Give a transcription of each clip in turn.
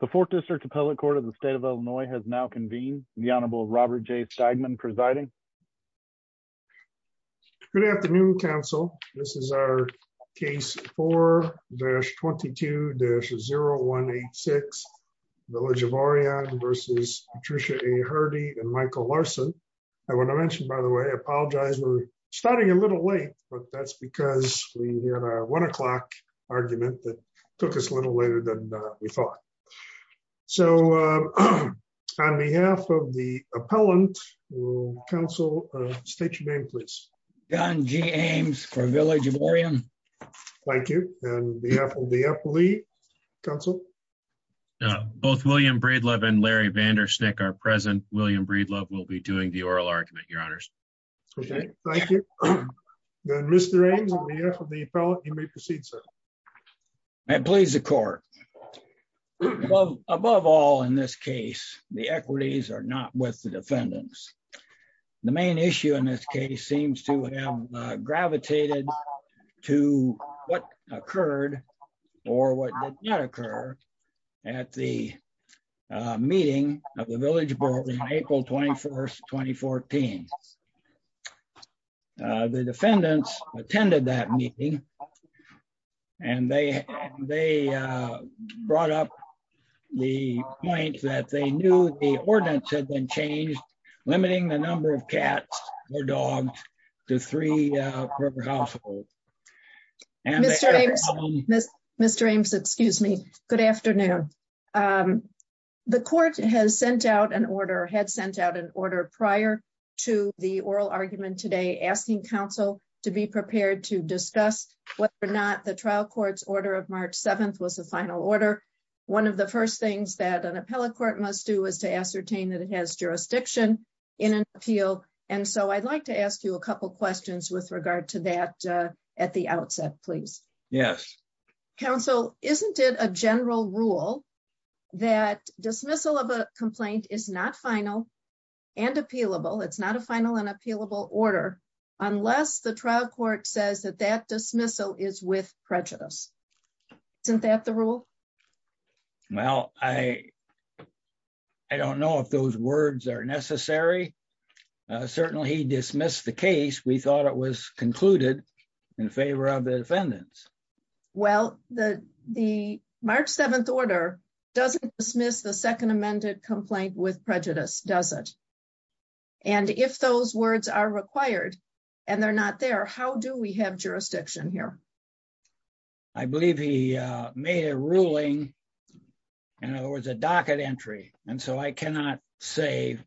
The Fourth District Appellate Court of the State of Illinois has now convened. The Honorable Robert J. Steigman presiding. Good afternoon, Council. This is our case 4-22-0186, Village of Orion versus Patricia A. Hardi and Michael Larson. I want to mention, by the way, I apologize we're starting a little late, but that's because we had a one o'clock argument that took us a little later than we thought. So, on behalf of the appellant, Council, state your name, please. John G. Ames for Village of Orion. Thank you. And on behalf of the appellee, Council? Both William Breedlove and Larry Vandersnick are present. William Breedlove will be doing the oral argument, Your Honors. Okay, thank you. Mr. Ames, on behalf of the appellate, you may proceed, sir. And please, the court. Above all in this case, the equities are not with the defendants. The main issue in this case seems to have gravitated to what occurred or what did not occur at the meeting of the Village Board on April 24th, 2014. The defendants attended that meeting and they brought up the point that they knew the ordinance had been changed, limiting the number of cats or dogs to three per household. Mr. Ames, excuse me. Good afternoon. The court has sent out an order, had sent out an order prior to the oral argument today, asking Council to be prepared to discuss whether or not the trial court's order of March 7th was the final order. One of the first things that an appellate court must do is to ascertain that it has jurisdiction in an appeal. And so, I'd like to ask you a couple questions with regard to that at the outset, please. Yes. Council, isn't it a general rule that dismissal of a complaint is not final and appealable, it's not a final and appealable order, unless the trial court says that that dismissal is with prejudice. Isn't that the rule? Well, I don't know if those words are in favor of the defendants. Well, the March 7th order doesn't dismiss the second amended complaint with prejudice, does it? And if those words are required and they're not there, how do we have jurisdiction here? I believe he made a ruling, in other words, a docket entry. And so, I cannot say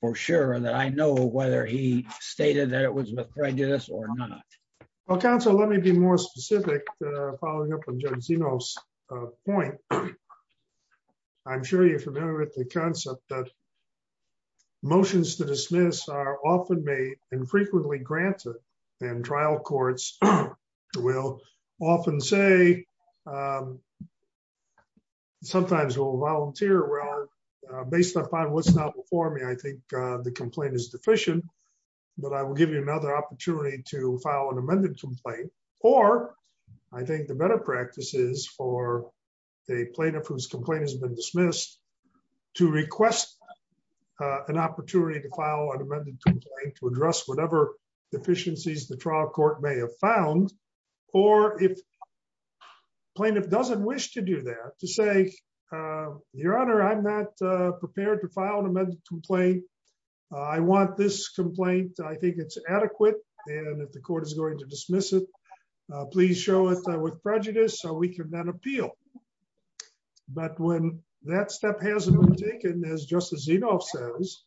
for sure that I know whether he stated that it was with prejudice or not. Council, let me be more specific, following up on Judge Zeno's point. I'm sure you're familiar with the concept that motions to dismiss are often made and frequently granted, and trial courts will often say, sometimes will volunteer, well, based upon what's now before me, I think the complaint is deficient, but I will give you another opportunity to file an amended complaint, or I think the better practice is for a plaintiff whose complaint has been dismissed to request an opportunity to file an amended complaint to address whatever deficiencies the trial court may have found, or if the plaintiff doesn't wish to do that, to say, Your Honor, I'm not prepared to file an amended complaint. I want this complaint. I think it's adequate, and if the court is going to dismiss it, please show it with prejudice so we can then appeal. But when that step hasn't been taken, as Justice Zeno says,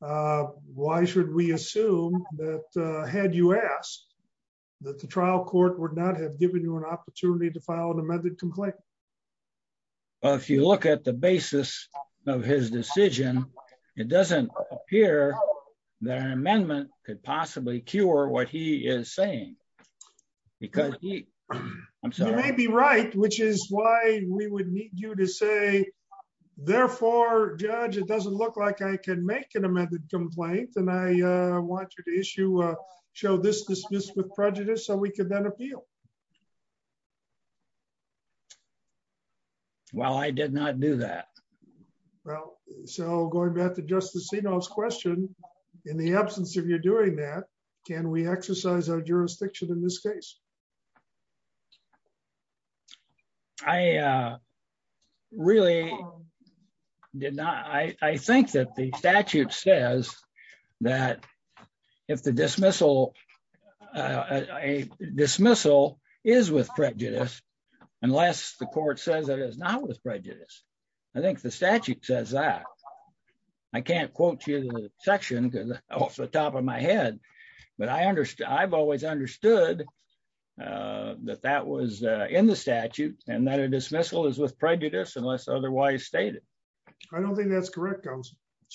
why should we assume that, had you asked, that the trial court would not have given you an opportunity to file an amended complaint? Well, if you look at the basis of his decision, it doesn't appear that an amendment could possibly cure what he is saying, because he, I'm sorry. You may be right, which is why we would need you to say, therefore, Judge, it doesn't look like I can make an amended complaint, and I want you to issue, show this dismissed with prejudice so we could then appeal. Well, I did not do that. Well, so going back to Justice Zeno's question, in the absence of you doing that, can we exercise our jurisdiction in this case? I really did not. I think that the statute says that if the dismissal, a dismissal is with prejudice, unless the court says that it is not with prejudice, I think the statute says that. I can't quote you the section off the top of my head, but I've always understood that that was in the statute, and that a dismissal is with prejudice unless otherwise stated. I don't think that's correct. As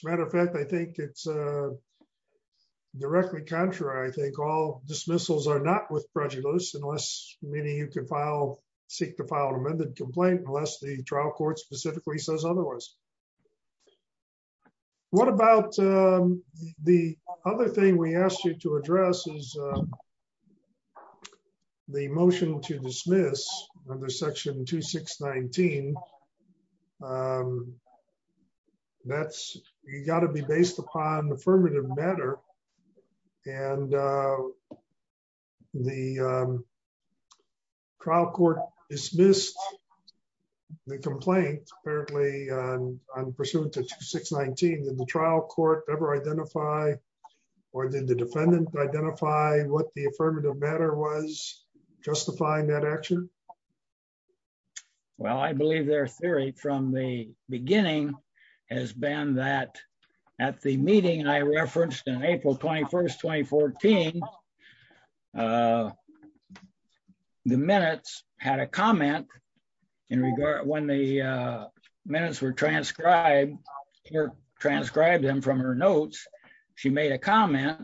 a matter of fact, I think it's meaning you can file, seek to file an amended complaint unless the trial court specifically says otherwise. What about the other thing we asked you to address is the motion to dismiss under section 2619. That's, you got to be based upon the affirmative matter, and the trial court dismissed the complaint apparently on pursuant to 2619. Did the trial court ever identify, or did the defendant identify what the affirmative matter was justifying that action? Well, I believe their theory from the beginning has been that at the meeting I referenced in April 21st, 2014, the minutes had a comment in regard, when the minutes were transcribed, or transcribed them from her notes, she made a comment,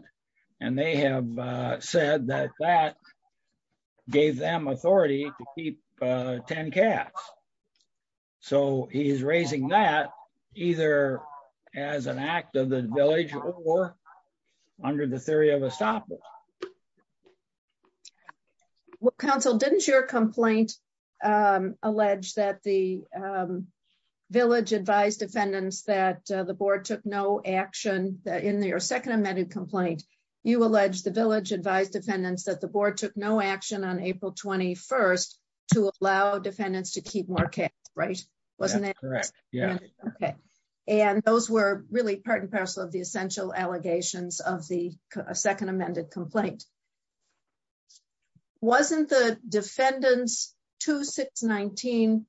and they have said that that them authority to keep 10 cats. So he's raising that either as an act of the village or under the theory of estoppel. Well, counsel, didn't your complaint allege that the village advised defendants that the board took no action in their second amended complaint? You allege the village advised defendants that the board took no action on April 21st to allow defendants to keep more cats, right? Wasn't that correct? Yeah. Okay. And those were really part and parcel of the essential allegations of the second amended complaint. Wasn't the defendant's 2619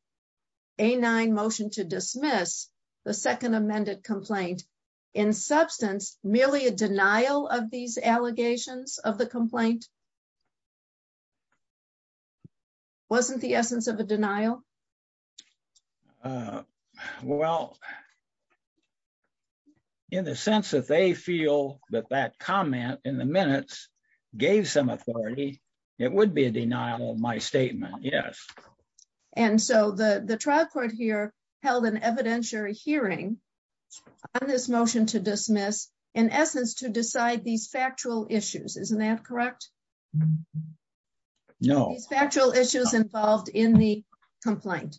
A9 motion to dismiss the second amended complaint in substance merely a denial of these allegations of the complaint? Wasn't the essence of a denial? Well, in the sense that they feel that that comment in the minutes gave some authority, it would be a denial of my statement. Yes. And so the trial court here held an evidentiary hearing on this motion to dismiss in essence to decide these factual issues. Isn't that correct? No factual issues involved in the complaint.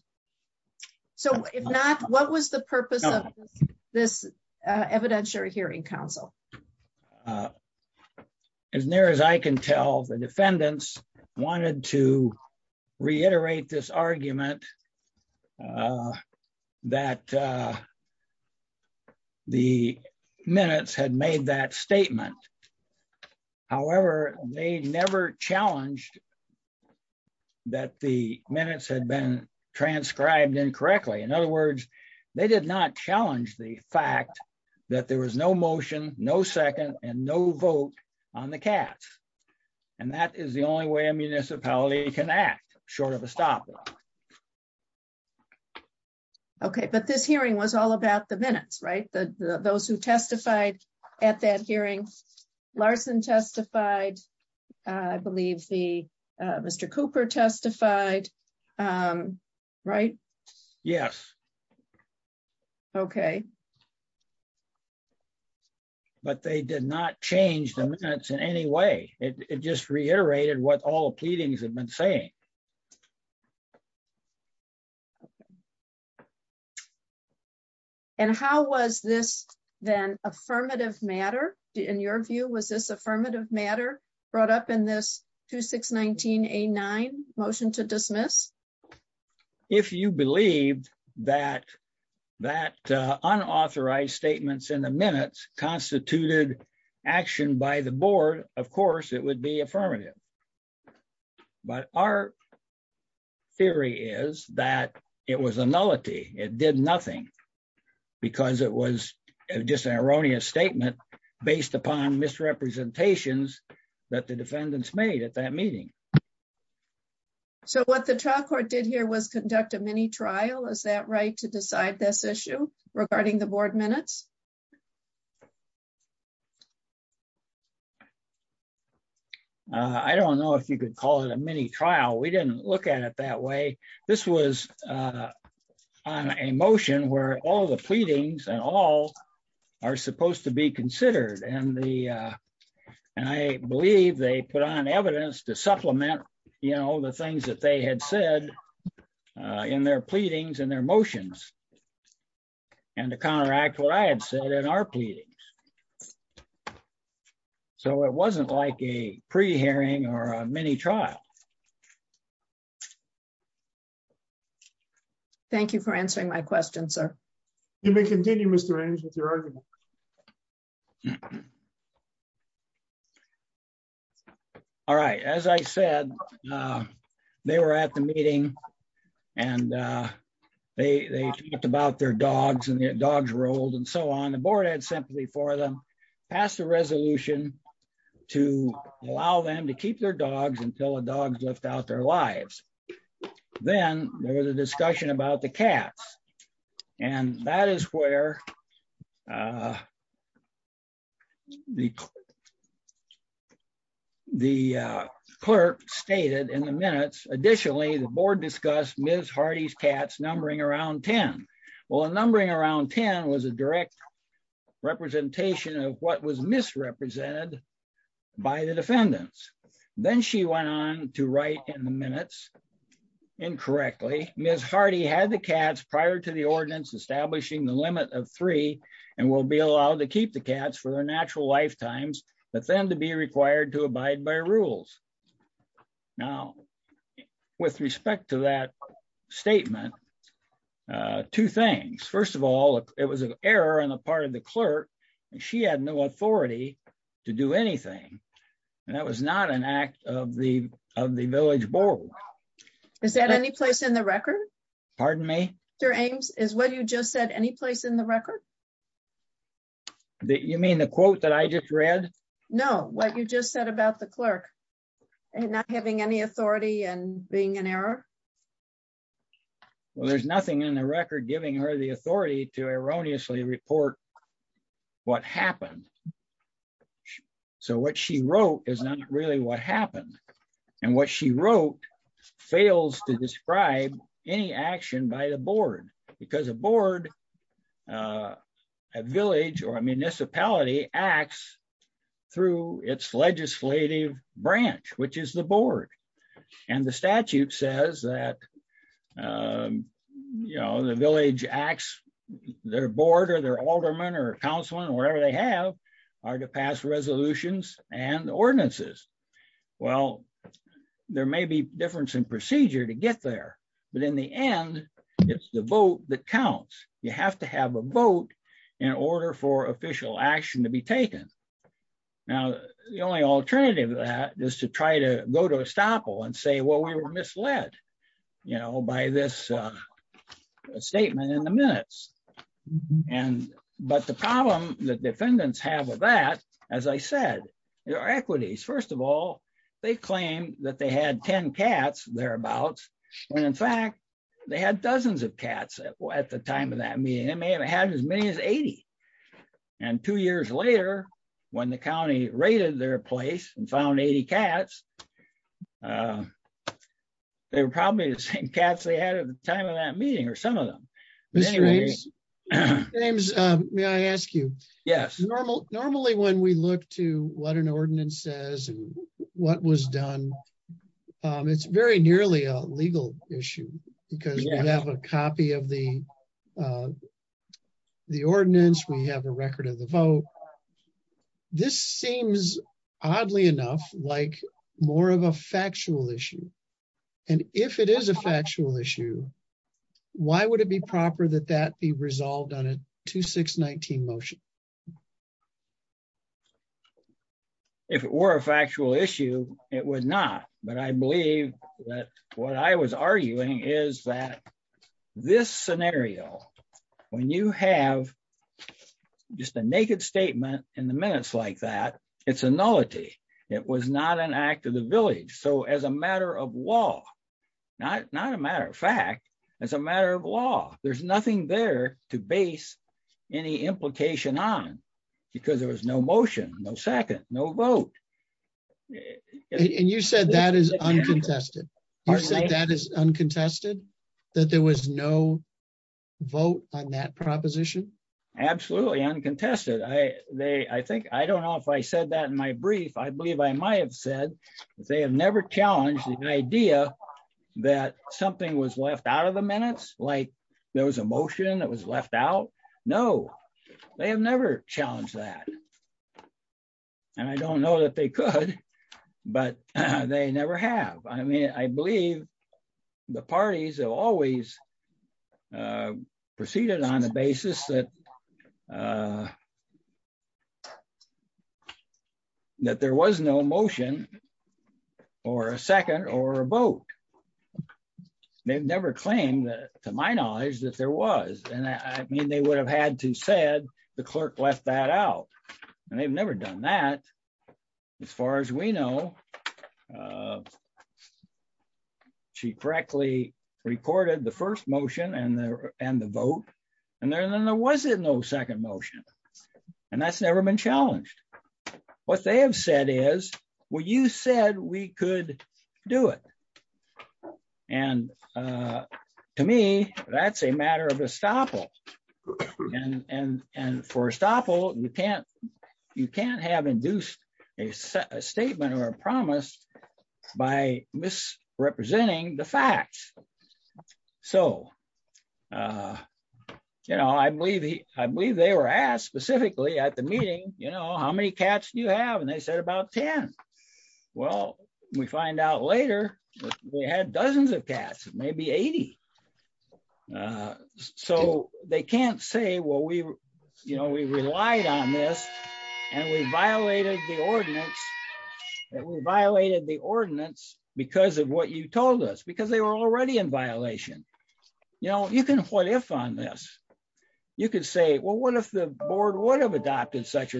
So if not, what was the purpose of this evidentiary hearing counsel? As near as I can tell the defendants wanted to reiterate this argument that the minutes had made that statement. However, they never challenged that the minutes had been transcribed incorrectly. In other words, they did not challenge the fact that there was no motion, no second and no vote on the cats. And that is the only way a municipality can act short of a stop. Okay, but this hearing was all about the minutes, right? Those who testified at that hearing, Larson testified. I believe the Mr. Cooper testified. Right? Yes. Okay. But they did not change them in any way. It just reiterated what all pleadings have been saying. And how was this then affirmative matter? In your view, was this affirmative matter brought up in this 2619 a nine motion to dismiss? If you believe that that unauthorized statements in the minutes constituted action by the board, of course, it would be affirmative. But our theory is that it was a nullity. It did nothing. Because it was just an erroneous statement based upon misrepresentations that the defendants made at that meeting. Okay. So what the trial court did here was conduct a mini trial. Is that right to decide this issue regarding the board minutes? I don't know if you could call it a mini trial. We didn't look at it that way. This was on a motion where all the pleadings and all are supposed to be you know, the things that they had said in their pleadings and their motions. And to counteract what I had said in our pleadings. So it wasn't like a pre hearing or a mini trial. Thank you for answering my question, sir. You may continue Mr. Range with your argument. All right. As I said, they were at the meeting and they talked about their dogs and their dogs rolled and so on. The board had sympathy for them, passed a resolution to allow them to keep their dogs until the dogs left out their lives. Then there was a discussion about the cats. And that is where the clerk stated in the minutes. Additionally, the board discussed Ms. Hardy's cats numbering around 10. Well, a numbering around 10 was a direct representation of what was misrepresented by the defendants. Then she went on to write in the minutes incorrectly. Ms. Hardy's cats numbering around 10 was a direct representation of what was misrepresented by the defendants. Then she went on to write in the minutes incorrectly. Then she went on to write in the minutes incorrectly. Then she went on to write in the minutes incorrectly. Then she went on to write in the minutes incorrectly. First of all, it was an error on the part of the clerk and she had no authority to do anything. And that was not an act of the of the village board. Is that any place in the record? Pardon me? Mr. Ames, is what you just said any place in the record? You mean the quote that I just read? No, what you just said about the clerk not having any authority and being an error? Well, there's nothing in the record giving her the authority to erroneously report what happened. So what she wrote is not really what happened. And what she wrote fails to describe any action by the board, because a board, a village or a municipality acts through its legislative branch, which is the board. And the statute says that, you know, the village acts, their board or their alderman or councilman, wherever they have are to pass resolutions and ordinances. Well, there may be difference in procedure to get there. But in the end, it's the vote that counts. You have to have a vote in order for official action to be taken. Now, the only alternative is to try to go to estoppel and say, well, we were misled, you know, by this statement in the minutes. But the problem that defendants have with that, as I said, there are equities. First of all, they claim that they had 10 cats thereabouts. And in fact, they had dozens of cats at the time of that meeting, they may have had as many as 80. And two years later, when the county raided their place and found 80 cats, they were probably the same cats they had at the time of that meeting or some of them. James, may I ask you, yes, normally, normally, when we look to what an ordinance says, what was done, it's very nearly a legal issue, because you have a copy of the the ordinance, we have a record of the vote. This seems oddly enough, like more of a factual issue. And if it is a factual issue, why would it be proper that that be resolved on a 2619 motion? If it were a factual issue, it was not. But I believe that what I was arguing is that this scenario, when you have just a naked statement in the minutes like that, it's a nullity. It was not an act of the village. So as a matter of law, not not a matter of fact, as a matter of law, there's nothing there to base any implication on because there was no motion, no second, no vote. And you said that is uncontested. That is uncontested, that there was no vote on that proposition. Absolutely uncontested. I they I think I don't know if I said that in my brief, I believe I might have said they have never challenged the idea that something was left out of the minutes like there was a motion that was left out. No, they have never challenged that. And I don't know that they could, but they never have. I mean, I believe the parties have always proceeded on the basis that that there was no motion or a second or a vote. They've never claimed that to my knowledge that there was and I mean, they would have had to said the clerk left that out. And they've never done that. As far as we know, she correctly recorded the first motion and the and the vote. And then there wasn't no second motion. And that's never been challenged. What they have said is, well, you said we could do it. And to me, that's a matter of estoppel. And and and for estoppel, you can't, you can't have induced a statement or a promise by misrepresenting the facts. So, you know, I believe he I believe they were asked specifically at the meeting, you know, how many cats do you have? And they said about 10. Well, we find out later, we had dozens of cats, maybe 80. So they can't say, well, we, you know, we relied on this. And we violated the ordinance. We violated the ordinance because of what you told us because they were already in violation. You know, you can what if on this, you could say, well, what if the board would have adopted such a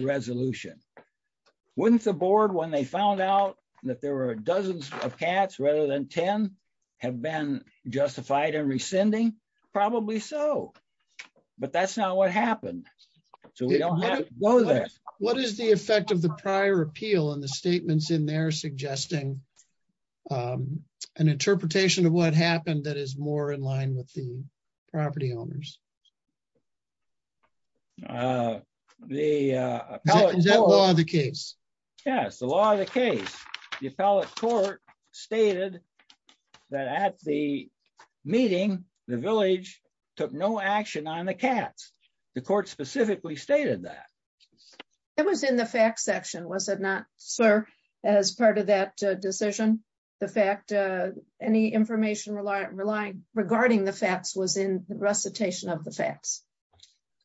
there were dozens of cats rather than 10 have been justified and rescinding? Probably so. But that's not what happened. So we don't know that. What is the effect of the prior appeal and the statements in there suggesting an interpretation of what happened that is more in line with the property owners? The law, the case, yes, the law, the case, the appellate court stated that at the meeting, the village took no action on the cats. The court specifically stated that it was in the fact section, was it not, sir, as part of that decision, the fact, any information relying regarding the facts was in recitation of the facts.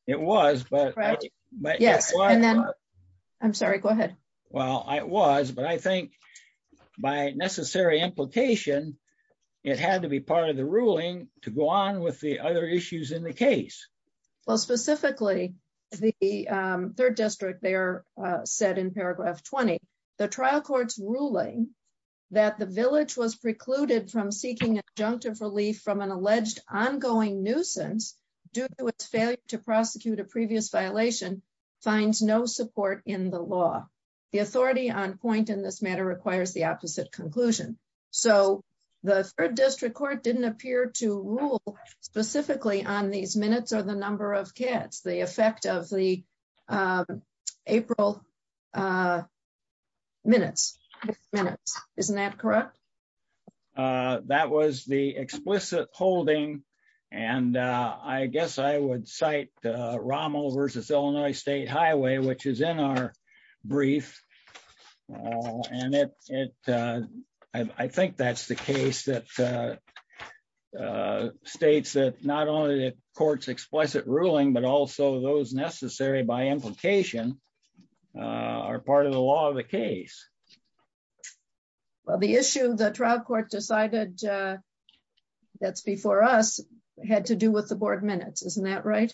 It was, but yes, I'm sorry, go ahead. Well, I was, but I think by necessary implication, it had to be part of the ruling to go on with the other issues in the case. Well, specifically, the third district there said in paragraph 20, the trial court's ruling that the village was precluded from seeking adjunctive relief from an alleged ongoing nuisance due to its failure to prosecute a previous violation finds no support in the law. The authority on point in this matter requires the opposite conclusion. So the third district court didn't appear to rule specifically on these minutes or the number of cats, the effect of the minutes, minutes, isn't that correct? That was the explicit holding. And I guess I would cite Rommel versus Illinois State Highway, which is in our brief. And it, I think that's the case that states that not only the court's explicit ruling, but also those necessary by implication are part of the law of the case. Well, the issue the trial court decided that's before us had to do with the board minutes, isn't that right?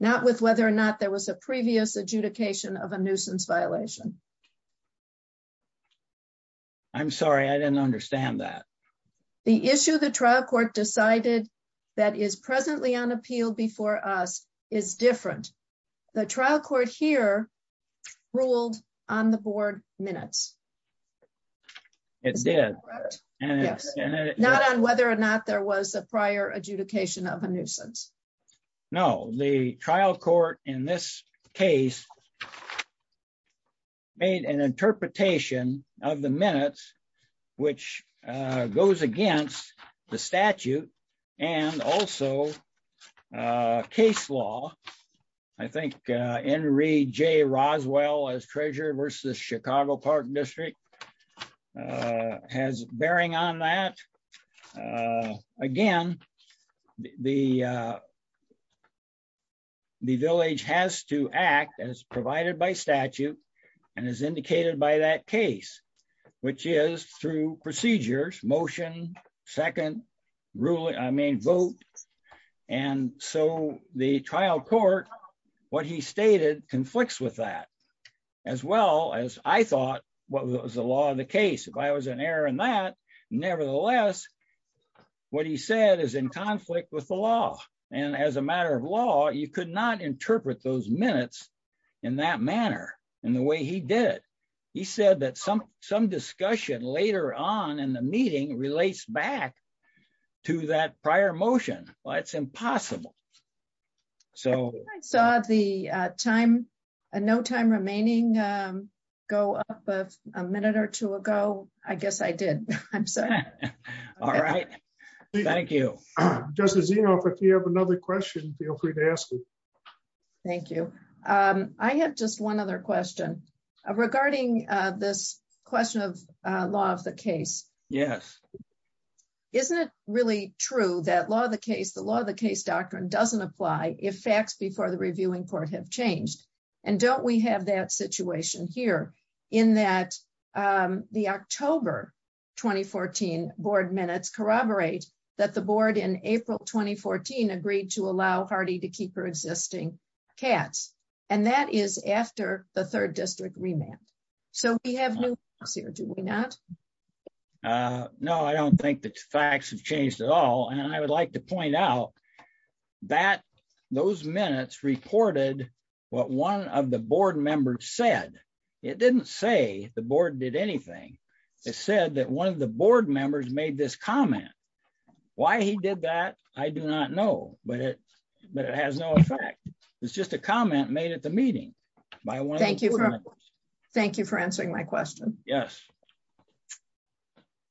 Not with whether or not there was a previous adjudication of a nuisance violation. I'm sorry, I didn't understand that. The issue the trial court decided that is presently on appeal before us is different. The trial court here ruled on the board minutes. It's not on whether or not there was a prior adjudication of a nuisance. No, the trial court in this case made an interpretation of the minutes, which goes against the statute and also case law. I think Henry J. Roswell as treasurer versus Chicago Park District has bearing on that. Again, the village has to act as provided by statute and as indicated by that case, which is through procedures, motion, second ruling, I mean vote. And so the trial court, what he stated conflicts with that as well as I thought what was the law of the case. If I was an error in that, nevertheless, what he said is in conflict with the law. And as a matter of law, you could not interpret those minutes in that manner, in the way he did. He said that some discussion later on in the meeting relates back to that prior motion. Well, it's impossible. I saw the no time remaining go up a minute or two ago. I guess I did. I'm sorry. All right. Thank you. Justice I have just one other question regarding this question of law of the case. Yes. Isn't it really true that law of the case, the law of the case doctrine doesn't apply if facts before the reviewing court have changed? And don't we have that situation here in that the October 2014 board minutes corroborate that the board in April 2014 agreed to allow Hardy to keep her existing cats. And that is after the third district remand. So we have new here, do we not? No, I don't think that facts have changed at all. And I would like to point out that those minutes reported what one of the board members said. It didn't say the board did anything. It said that one of the board members made this comment. Why he did that, I do not know, but it has no effect. It's just a comment made at the meeting. Thank you for answering my question. Yes.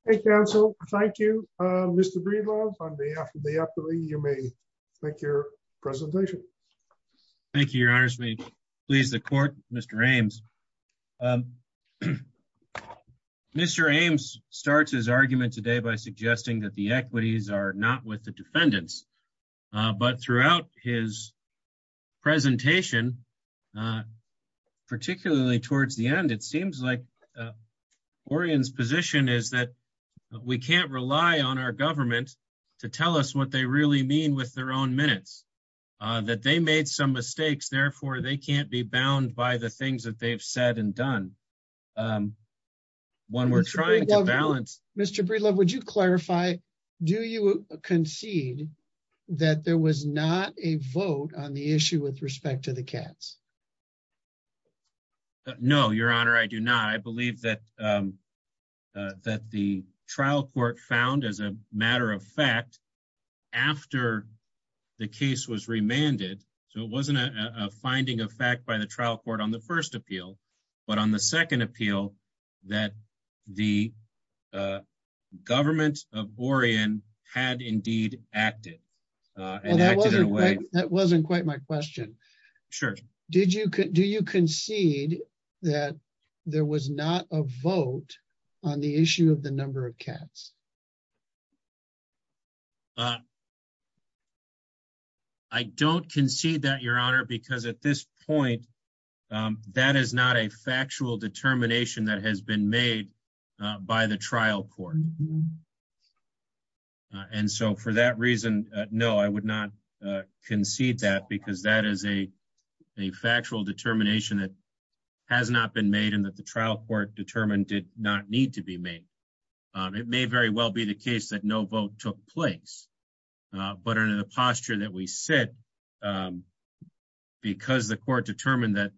Thank you, counsel. Thank you, Mr. Breedlove. On behalf of the appellee, you may make your presentation. Thank you, Your Honor. Please, the court, Mr. Ames. Mr. Ames starts his argument today by suggesting that the equities are not with the defendants. But throughout his presentation, particularly towards the end, it seems like Oregon's position is that we can't rely on our government to tell us what they really mean with their own minutes, that they made some mistakes. Therefore, they can't be bound by the things that they've said and done. When we're trying to balance... Mr. Breedlove, would you clarify, do you concede that there was not a vote on the issue with respect to the cats? No, Your Honor, I do not. I believe that the trial court found as a matter of fact, after the case was remanded, so it wasn't a finding of fact by the trial court on the first appeal, but on the second appeal, that the government of Oregon had indeed acted. That wasn't quite my question. Sure. Do you concede that there was not a vote on the issue of the number of cats? I don't concede that, Your Honor, because at this point, that is not a factual determination that has been made by the trial court. And so for that reason, no, I would not concede that because that is a factual determination that has not been made and that the trial court determined did not need to be made. It may very well be the case that no vote took place, but under the posture that we sit, because the court determined that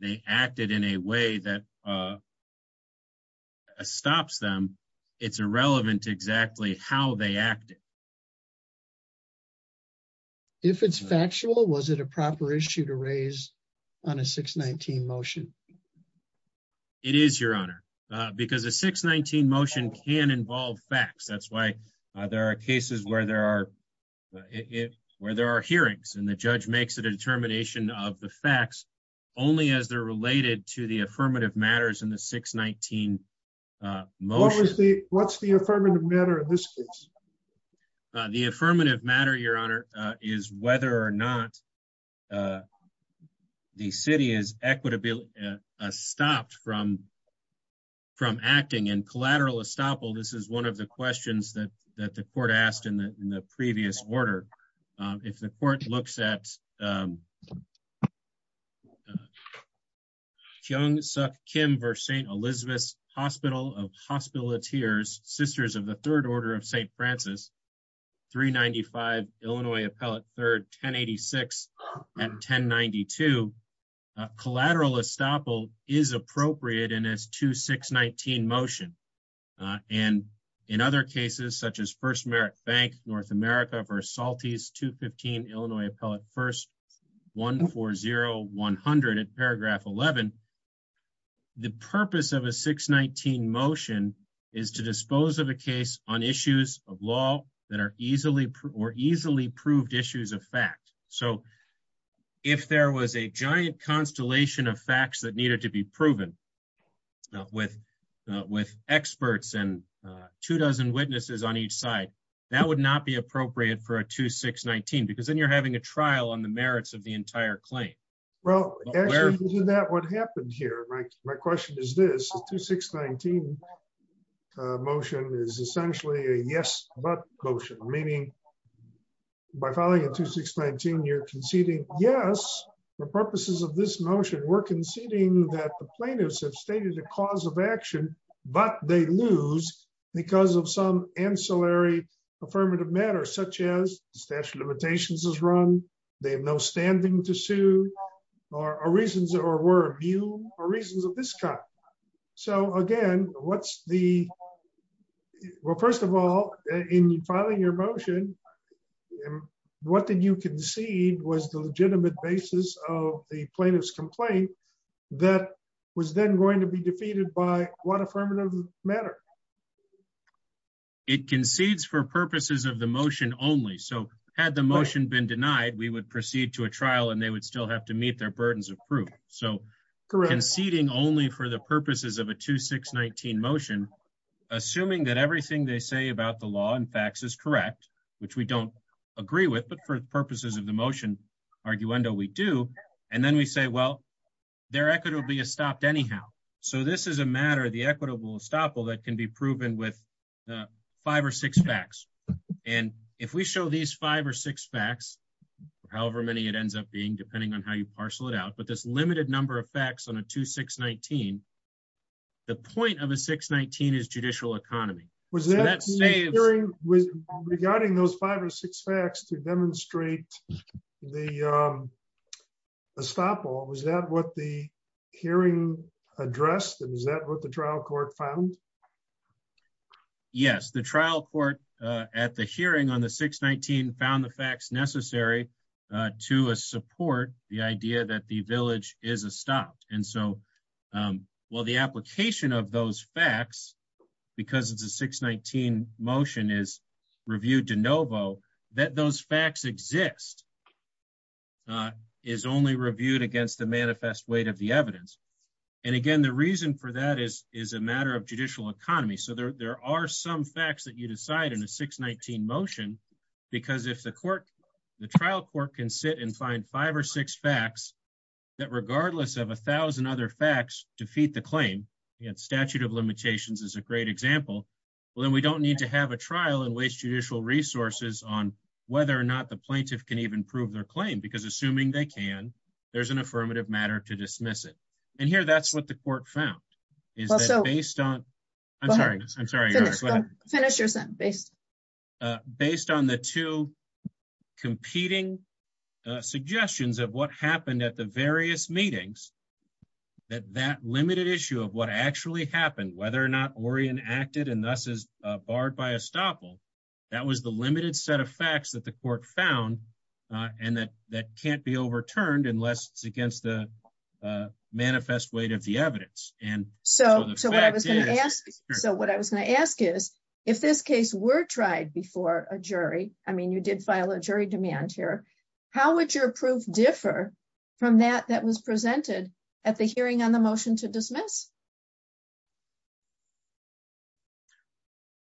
they acted in a way that stops them, it's irrelevant to exactly how they acted. If it's factual, was it a proper issue to raise on a 619 motion? It is, Your Honor, because a 619 motion can involve facts. That's why there are cases where there are hearings and the judge makes a determination of the facts only as they're related to the affirmative matters in the 619 motion. What's the affirmative matter in this case? The affirmative matter, Your Honor, is whether or not the city is equitably stopped from acting. And collateral estoppel, this is one of the questions that the court asked in the previous order. If the court looks at Kyung Suk Kim versus St. Elizabeth's Hospital of Hospitalleteers, sisters of the Third Order of St. Francis, 395 Illinois Appellate 3rd, 1086 and 1092, collateral estoppel is appropriate in this 2619 motion. And in other cases such as First Bank North America versus Salty's, 215 Illinois Appellate 1st, 140100 in paragraph 11, the purpose of a 619 motion is to dispose of a case on issues of law that are easily or easily proved issues of fact. So if there was a giant constellation of facts that needed to be proven with experts and two dozen witnesses on each side, that would not be appropriate for a 2619 because then you're having a trial on the merits of the entire claim. Well, isn't that what happened here? My question is this, the 2619 motion is essentially a yes but motion, meaning by filing a 2619, you're conceding yes, for purposes of this motion, we're conceding that the plaintiffs have stated a cause of action, but they lose because of some ancillary affirmative matter such as the statute of limitations is run. They have no standing to sue or reasons or were immune or reasons of this kind. So again, what's the, well, first of all, in filing your motion, and what did you concede was the legitimate basis of the plaintiff's complaint that was then going to be defeated by what affirmative matter? It concedes for purposes of the motion only. So had the motion been denied, we would proceed to a trial and they would still have to meet their burdens of proof. So conceding only for the purposes of a 2619 motion, assuming that everything they say about the law and facts is correct, which we don't agree with, but for purposes of the motion arguendo, we do. And then we say, well, their equity will be stopped anyhow. So this is a matter of the equitable estoppel that can be proven with five or six facts. And if we show these five or six facts, however many it ends up being, depending on how you parcel it out, but this limited number of facts on a 2619, the point of a 619 is judicial economy. Was that regarding those five or six facts to demonstrate the estoppel? Was that what the hearing addressed? And is that what the trial court found? Yes, the trial court at the hearing on the 619 found the facts necessary to support the idea that the village is a stop. And so while the application of those facts, because it's a 619 motion is reviewed de novo, that those facts exist is only reviewed against the manifest weight of the evidence. And again, the reason for that is, is a matter of judicial economy. So there are some facts that you decide in a 619 motion, because if the court, the trial court can and find five or six facts that regardless of a thousand other facts defeat the claim, you had statute of limitations is a great example. Well, then we don't need to have a trial and waste judicial resources on whether or not the plaintiff can even prove their claim, because assuming they can, there's an affirmative matter to dismiss it. And here, that's what the court found. Based on the two competing suggestions of what happened at the various meetings, that that limited issue of what actually happened, whether or not Orion acted and thus is barred by estoppel, that was the limited set of facts that the court found. And that that can't be overturned against the manifest weight of the evidence. So what I was going to ask is, if this case were tried before a jury, I mean, you did file a jury demand here, how would your proof differ from that that was presented at the hearing on the motion to dismiss?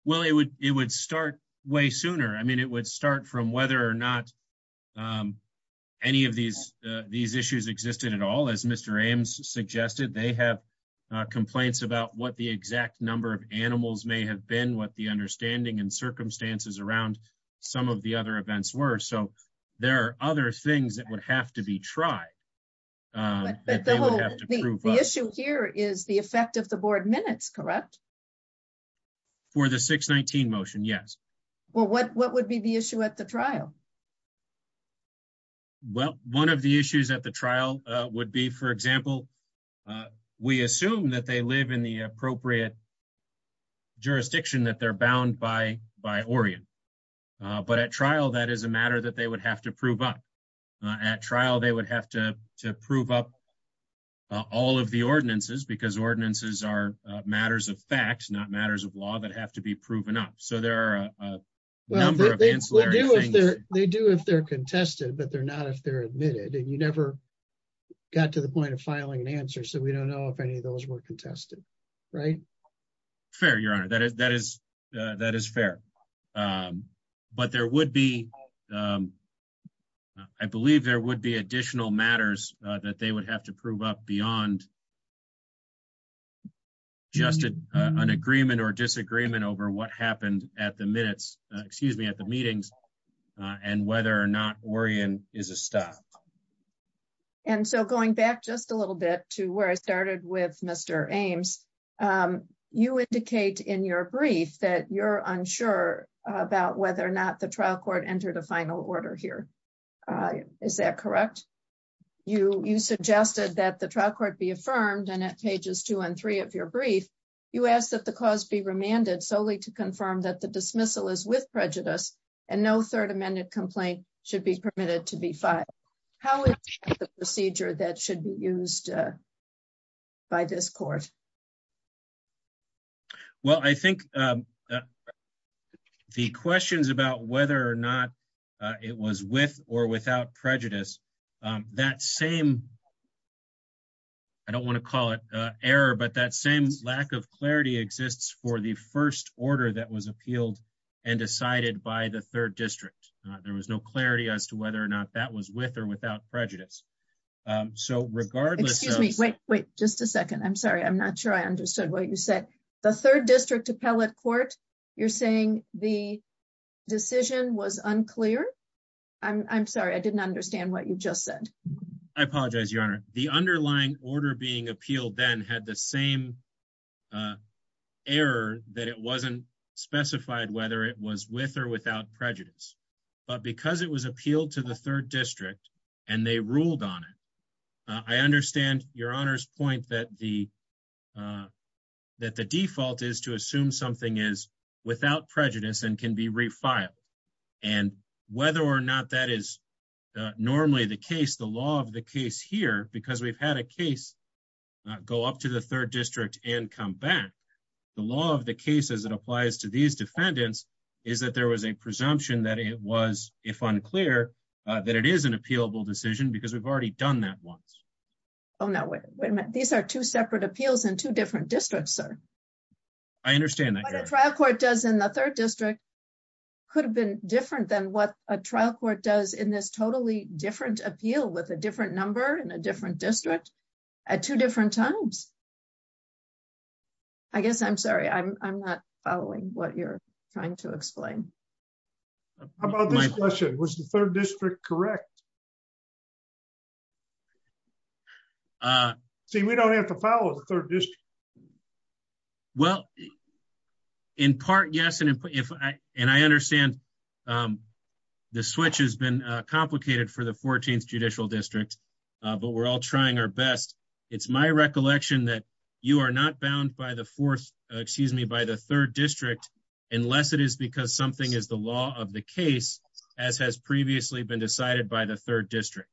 Well, it would start way sooner. I mean, it would start from whether or not any of these issues existed at all. As Mr. Ames suggested, they have complaints about what the exact number of animals may have been, what the understanding and circumstances around some of the other events were. So there are other things that would have to be tried. The issue here is the effect of the board minutes, correct? For the 619 motion, yes. Well, what would be the issue at the trial? Well, one of the issues at the trial would be, for example, we assume that they live in the appropriate jurisdiction, that they're bound by by Orion. But at trial, that is a matter that they would have to prove up. At trial, they would have to prove up all of the ordinances, because ordinances are matters of fact, not matters of law that have to be proven up. So there are a number of ancillary things. They do if they're contested, but they're not if they're admitted. And you never got to the point of filing an answer. So we don't know if any of those were contested, right? Fair, Your Honor. That is fair. But there would be, I believe there would be additional matters that they would have to prove up beyond just an agreement or disagreement over what happened at the minutes, excuse me, at the meetings, and whether or not Orion is a stop. And so going back just a little bit to where I started with Mr. Ames, you indicate in your brief that you're unsure about whether or not the trial court entered a final order here. Is that correct? You suggested that the trial court be affirmed, and at pages two and three of your brief, you ask that the cause be remanded solely to confirm that the dismissal is with prejudice, and no third amended complaint should be permitted to be filed. How is the procedure that should be used by this court? Well, I think the questions about whether or not it was with or without prejudice, that same, I don't want to call it error, but that same lack of clarity exists for the first order that was appealed and decided by the third district. There was no clarity as to whether or not that was with or without prejudice. So regardless of- Excuse me, wait, wait, just a second. I'm sorry, I'm not sure I understood what you said. The third district appellate court, you're saying the decision was unclear? I'm sorry, I didn't understand what you just said. I apologize, Your Honor. The underlying order being appealed then had the same error that it wasn't specified whether it was with or without prejudice. But because it was appealed to the third district and they ruled on it, I understand Your Honor's point that the default is to assume something is without prejudice and can be refiled. And whether or not that is normally the case, the law of the case here, because we've had a case go up to the third district and come back, the law of the case as it applies to these defendants is that there was a presumption that it was, if unclear, that it is an appealable decision because we've already done that once. Oh no, wait a minute. These are two separate appeals in two different districts, sir. I understand that, Your Honor. What the trial court does in the third district could have been different than what a trial court does in this totally different appeal with a different number in a different district at two different times. I guess I'm sorry, I'm not following what you're trying to explain. How about this question? Was the third district correct? See, we don't have to follow the third district. Well, in part yes, and I understand the switch has been complicated for the 14th Judicial District, but we're all trying our best. It's my recollection that you are not bound by the fourth, excuse me, by the third district unless it is because something is the law of the case, as has previously been decided by the third district.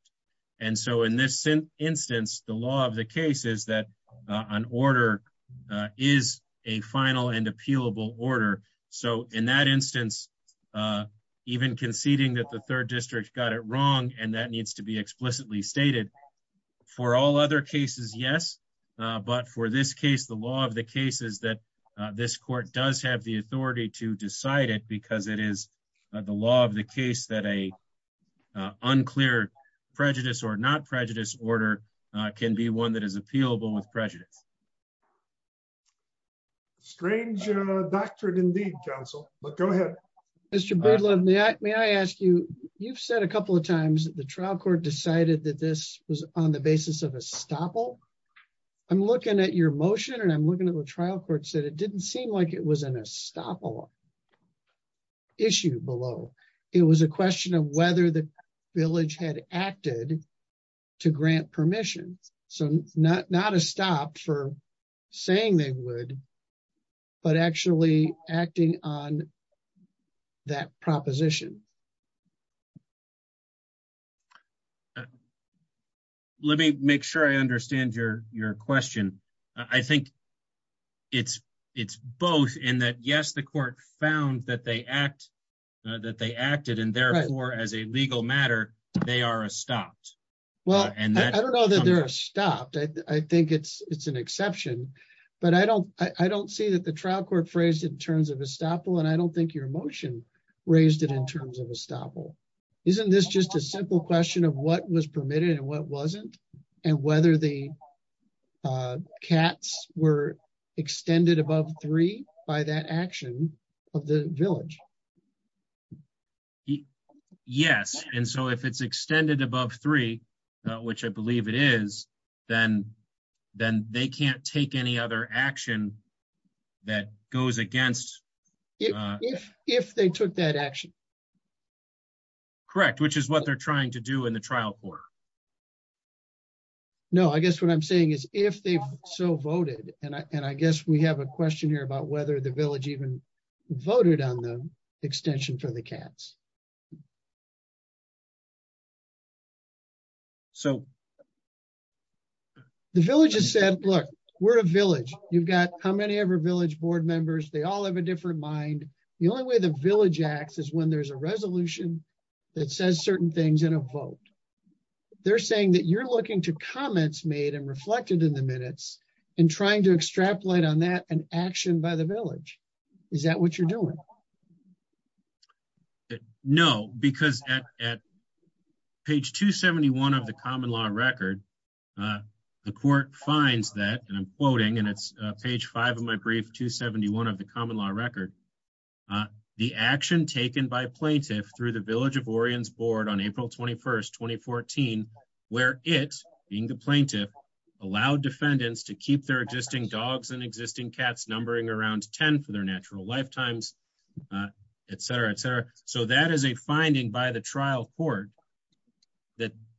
And so in this instance, the law of the case is that an order is a final and appealable order. So in that instance, even conceding that the third district got it wrong, and that needs to be explicitly stated. For all other cases, yes, but for this case, the law of the case is that this court does have the authority to decide it because it is the law of the case that a unclear prejudice or not prejudice order can be one that is appealable with prejudice. Strange doctrine indeed, counsel, but go ahead. Mr. Breedlove, may I ask you, you've said a couple of times that the trial court decided that this was on the basis of a stopple. I'm looking at your motion and I'm looking at the trial court said it didn't seem like it was an estoppel issue below. It was a question of whether the village had acted to grant permission. So not a stop for saying they would, but actually acting on that proposition. Let me make sure I understand your question. I think it's both in that, yes, the court found that they act, that they acted and therefore as a legal matter, they are stopped. Well, and I don't know that they're stopped. I think it's an exception, but I don't see that the trial court phrased it in terms of a stopple and I don't think your motion raised it in terms of a stopple. Isn't this just a simple question of what was permitted and what wasn't and whether the cats were extended above three by that action of the village? Yes, and so if it's extended above three, which I believe it is, then they can't take any other action that goes against- If they took that action. Correct, which is what they're trying to do in the trial court. No, I guess what I'm saying is if they've so voted, and I guess we have a question here about whether the village even voted on the extension for the cats. The village has said, look, we're a village. You've got how many of our village board members, they all have a different mind. The only way the village acts is when there's a resolution that says certain things in a vote. They're saying that you're looking to comments made and reflected in the minutes and trying to extrapolate on that and action by the village. Is that what you're doing? No, because at page 271 of the common law record, the court finds that, and I'm quoting and it's page five of my brief, 271 of the common law record, the action taken by plaintiff through the village of Orient's board on April 21st, 2014, where it, being the plaintiff, allowed defendants to keep their existing dogs and existing cats numbering around 10 for their natural lifetimes et cetera, et cetera. So that is a finding by the trial court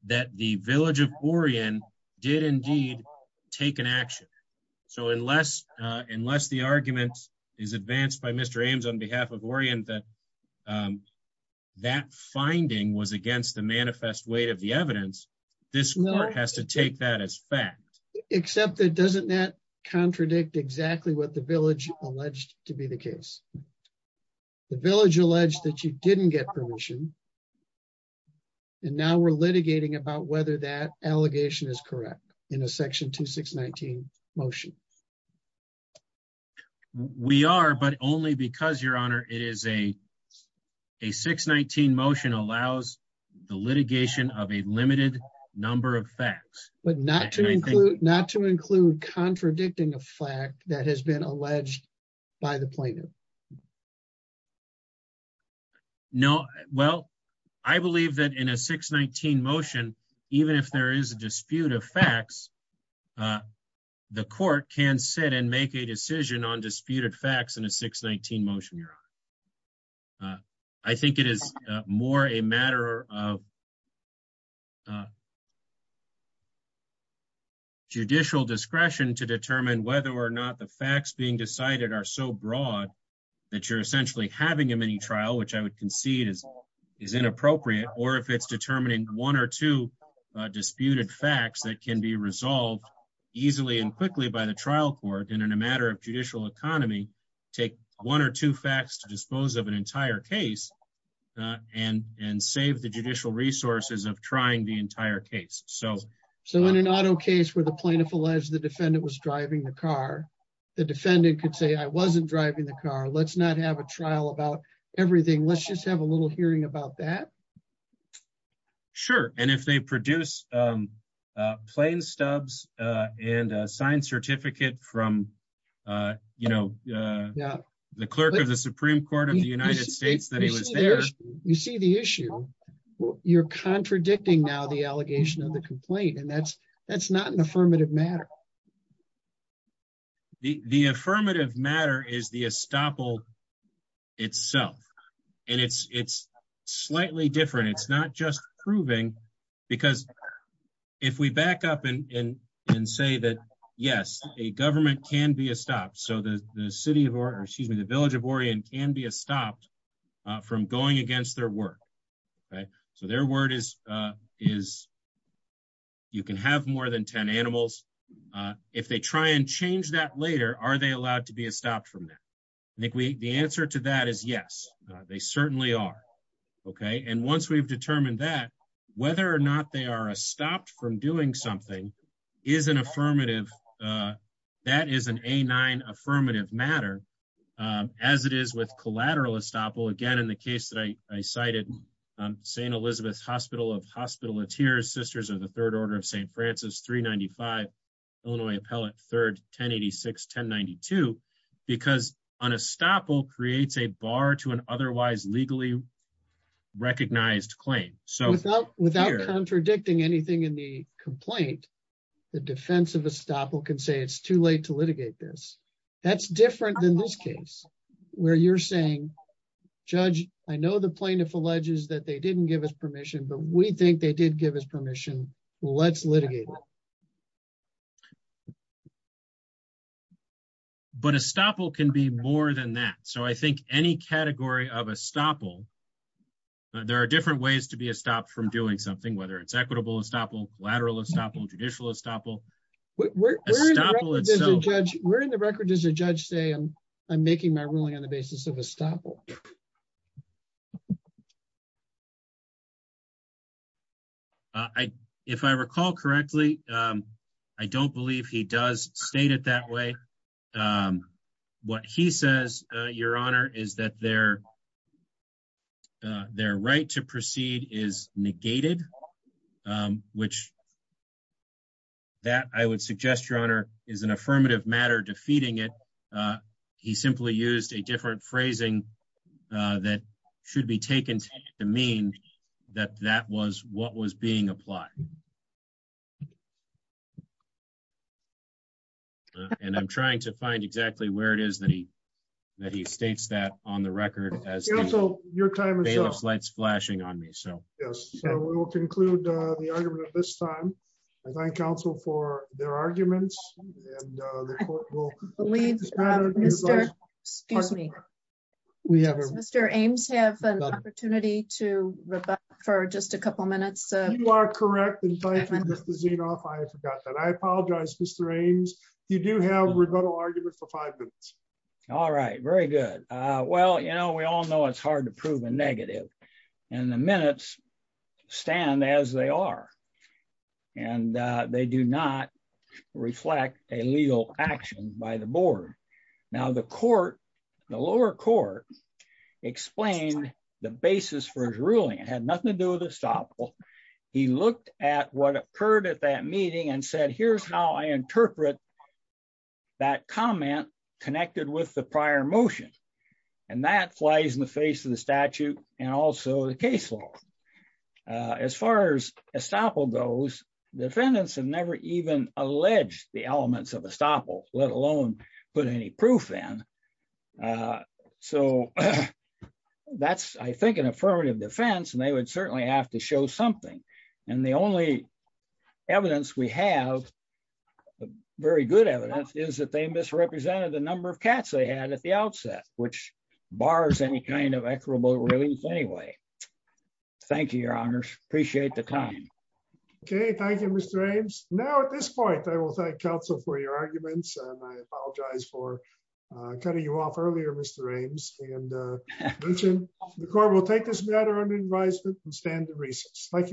that the village of Orient did indeed take an action. So unless the argument is advanced by Mr. Ames on behalf of Orient that that finding was against the manifest weight of the evidence, this court has to take that as fact. Except that doesn't that contradict exactly what the village alleged to be the case? The village alleged that you didn't get permission and now we're litigating about whether that allegation is correct in a section 2619 motion. We are, but only because your honor, it is a 619 motion allows the litigation of a limited number of facts. But not to include not to include contradicting a fact that has been alleged by the plaintiff. No, well, I believe that in a 619 motion, even if there is a dispute of facts, the court can sit and make a decision on disputed facts in a 619 motion, your honor. I think it is more a matter of judicial discretion to determine whether or not the facts are so broad that you're essentially having a mini trial, which I would concede is inappropriate. Or if it's determining one or two disputed facts that can be resolved easily and quickly by the trial court and in a matter of judicial economy, take one or two facts to dispose of an entire case and save the judicial resources of trying the entire case. So in an I wasn't driving the car. Let's not have a trial about everything. Let's just have a little hearing about that. Sure. And if they produce plain stubs and a signed certificate from, you know, the clerk of the Supreme Court of the United States that he was there, you see the issue, you're contradicting now the allegation of the complaint. And that's, that's not an affirmative matter. The affirmative matter is the estoppel itself. And it's, it's slightly different. It's not just proving, because if we back up and say that, yes, a government can be a stop. So the city of Oregon, excuse me, the village of Oregon can be stopped from going against their word. Okay, so their word is, is you can have more than 10 animals. If they try and change that later, are they allowed to be stopped from that? I think we the answer to that is yes, they certainly are. Okay. And once we've determined that, whether or not they are stopped from doing something is an affirmative. That is an a nine affirmative matter, as it is with collateral estoppel. Again, the case that I cited, St. Elizabeth's hospital of hospital it's here sisters of the third order of St. Francis 395, Illinois appellate third 1086 1092. Because on estoppel creates a bar to an otherwise legally recognized claim. So without without contradicting anything in the complaint, the defense of estoppel can say it's too late to litigate this. That's different than this case, where you're saying, Judge, I know the plaintiff alleges that they didn't give us permission, but we think they did give us permission. Let's litigate. But estoppel can be more than that. So I think any category of estoppel, there are different ways to be a stop from doing something, whether it's equitable, estoppel, collateral, estoppel, judicial estoppel. We're in the record as a judge say, I'm, I'm making my ruling on the basis of estoppel. I, if I recall correctly, I don't believe he does state it that way. What he says, Your Honor, is that their, their right to proceed is negated, which that I would suggest, Your Honor, is an affirmative matter defeating it. He simply used a different phrasing that should be taken to mean that that was what was being applied. And I'm trying to find exactly where it is that he, that he states that on the record as counsel, your time is flashing on me. So yes, we will conclude the argument at this time. I thank counsel for their arguments. Mr. Ames have an opportunity to rebut for just a couple minutes. I apologize, Mr. Ames. You do have rebuttal argument for five minutes. All right, very good. Well, you know, we all know it's hard to prove a negative and the minutes stand as they are. And they do not reflect a legal action by the board. Now the court, the lower court explained the basis for his ruling had nothing to do with estoppel. He looked at what occurred at that meeting and said, here's how I interpret that comment connected with the prior motion. And that flies in the face of the statute and also the case law. As far as estoppel goes, defendants have never even alleged the elements of estoppel, let alone put any proof in. So that's, I think, an affirmative defense. And they would certainly have to show something. And the only evidence we have, very good evidence, is that they misrepresented the number of cats they had at the outset, which bars any kind of equitable release anyway. Thank you, your honors. Appreciate the time. Okay, thank you, Mr. Ames. Now at this point, I will thank counsel for your arguments. And I apologize for cutting you off earlier, Mr. Ames. And the court will take this matter under advisement and stand in recess. Thank you.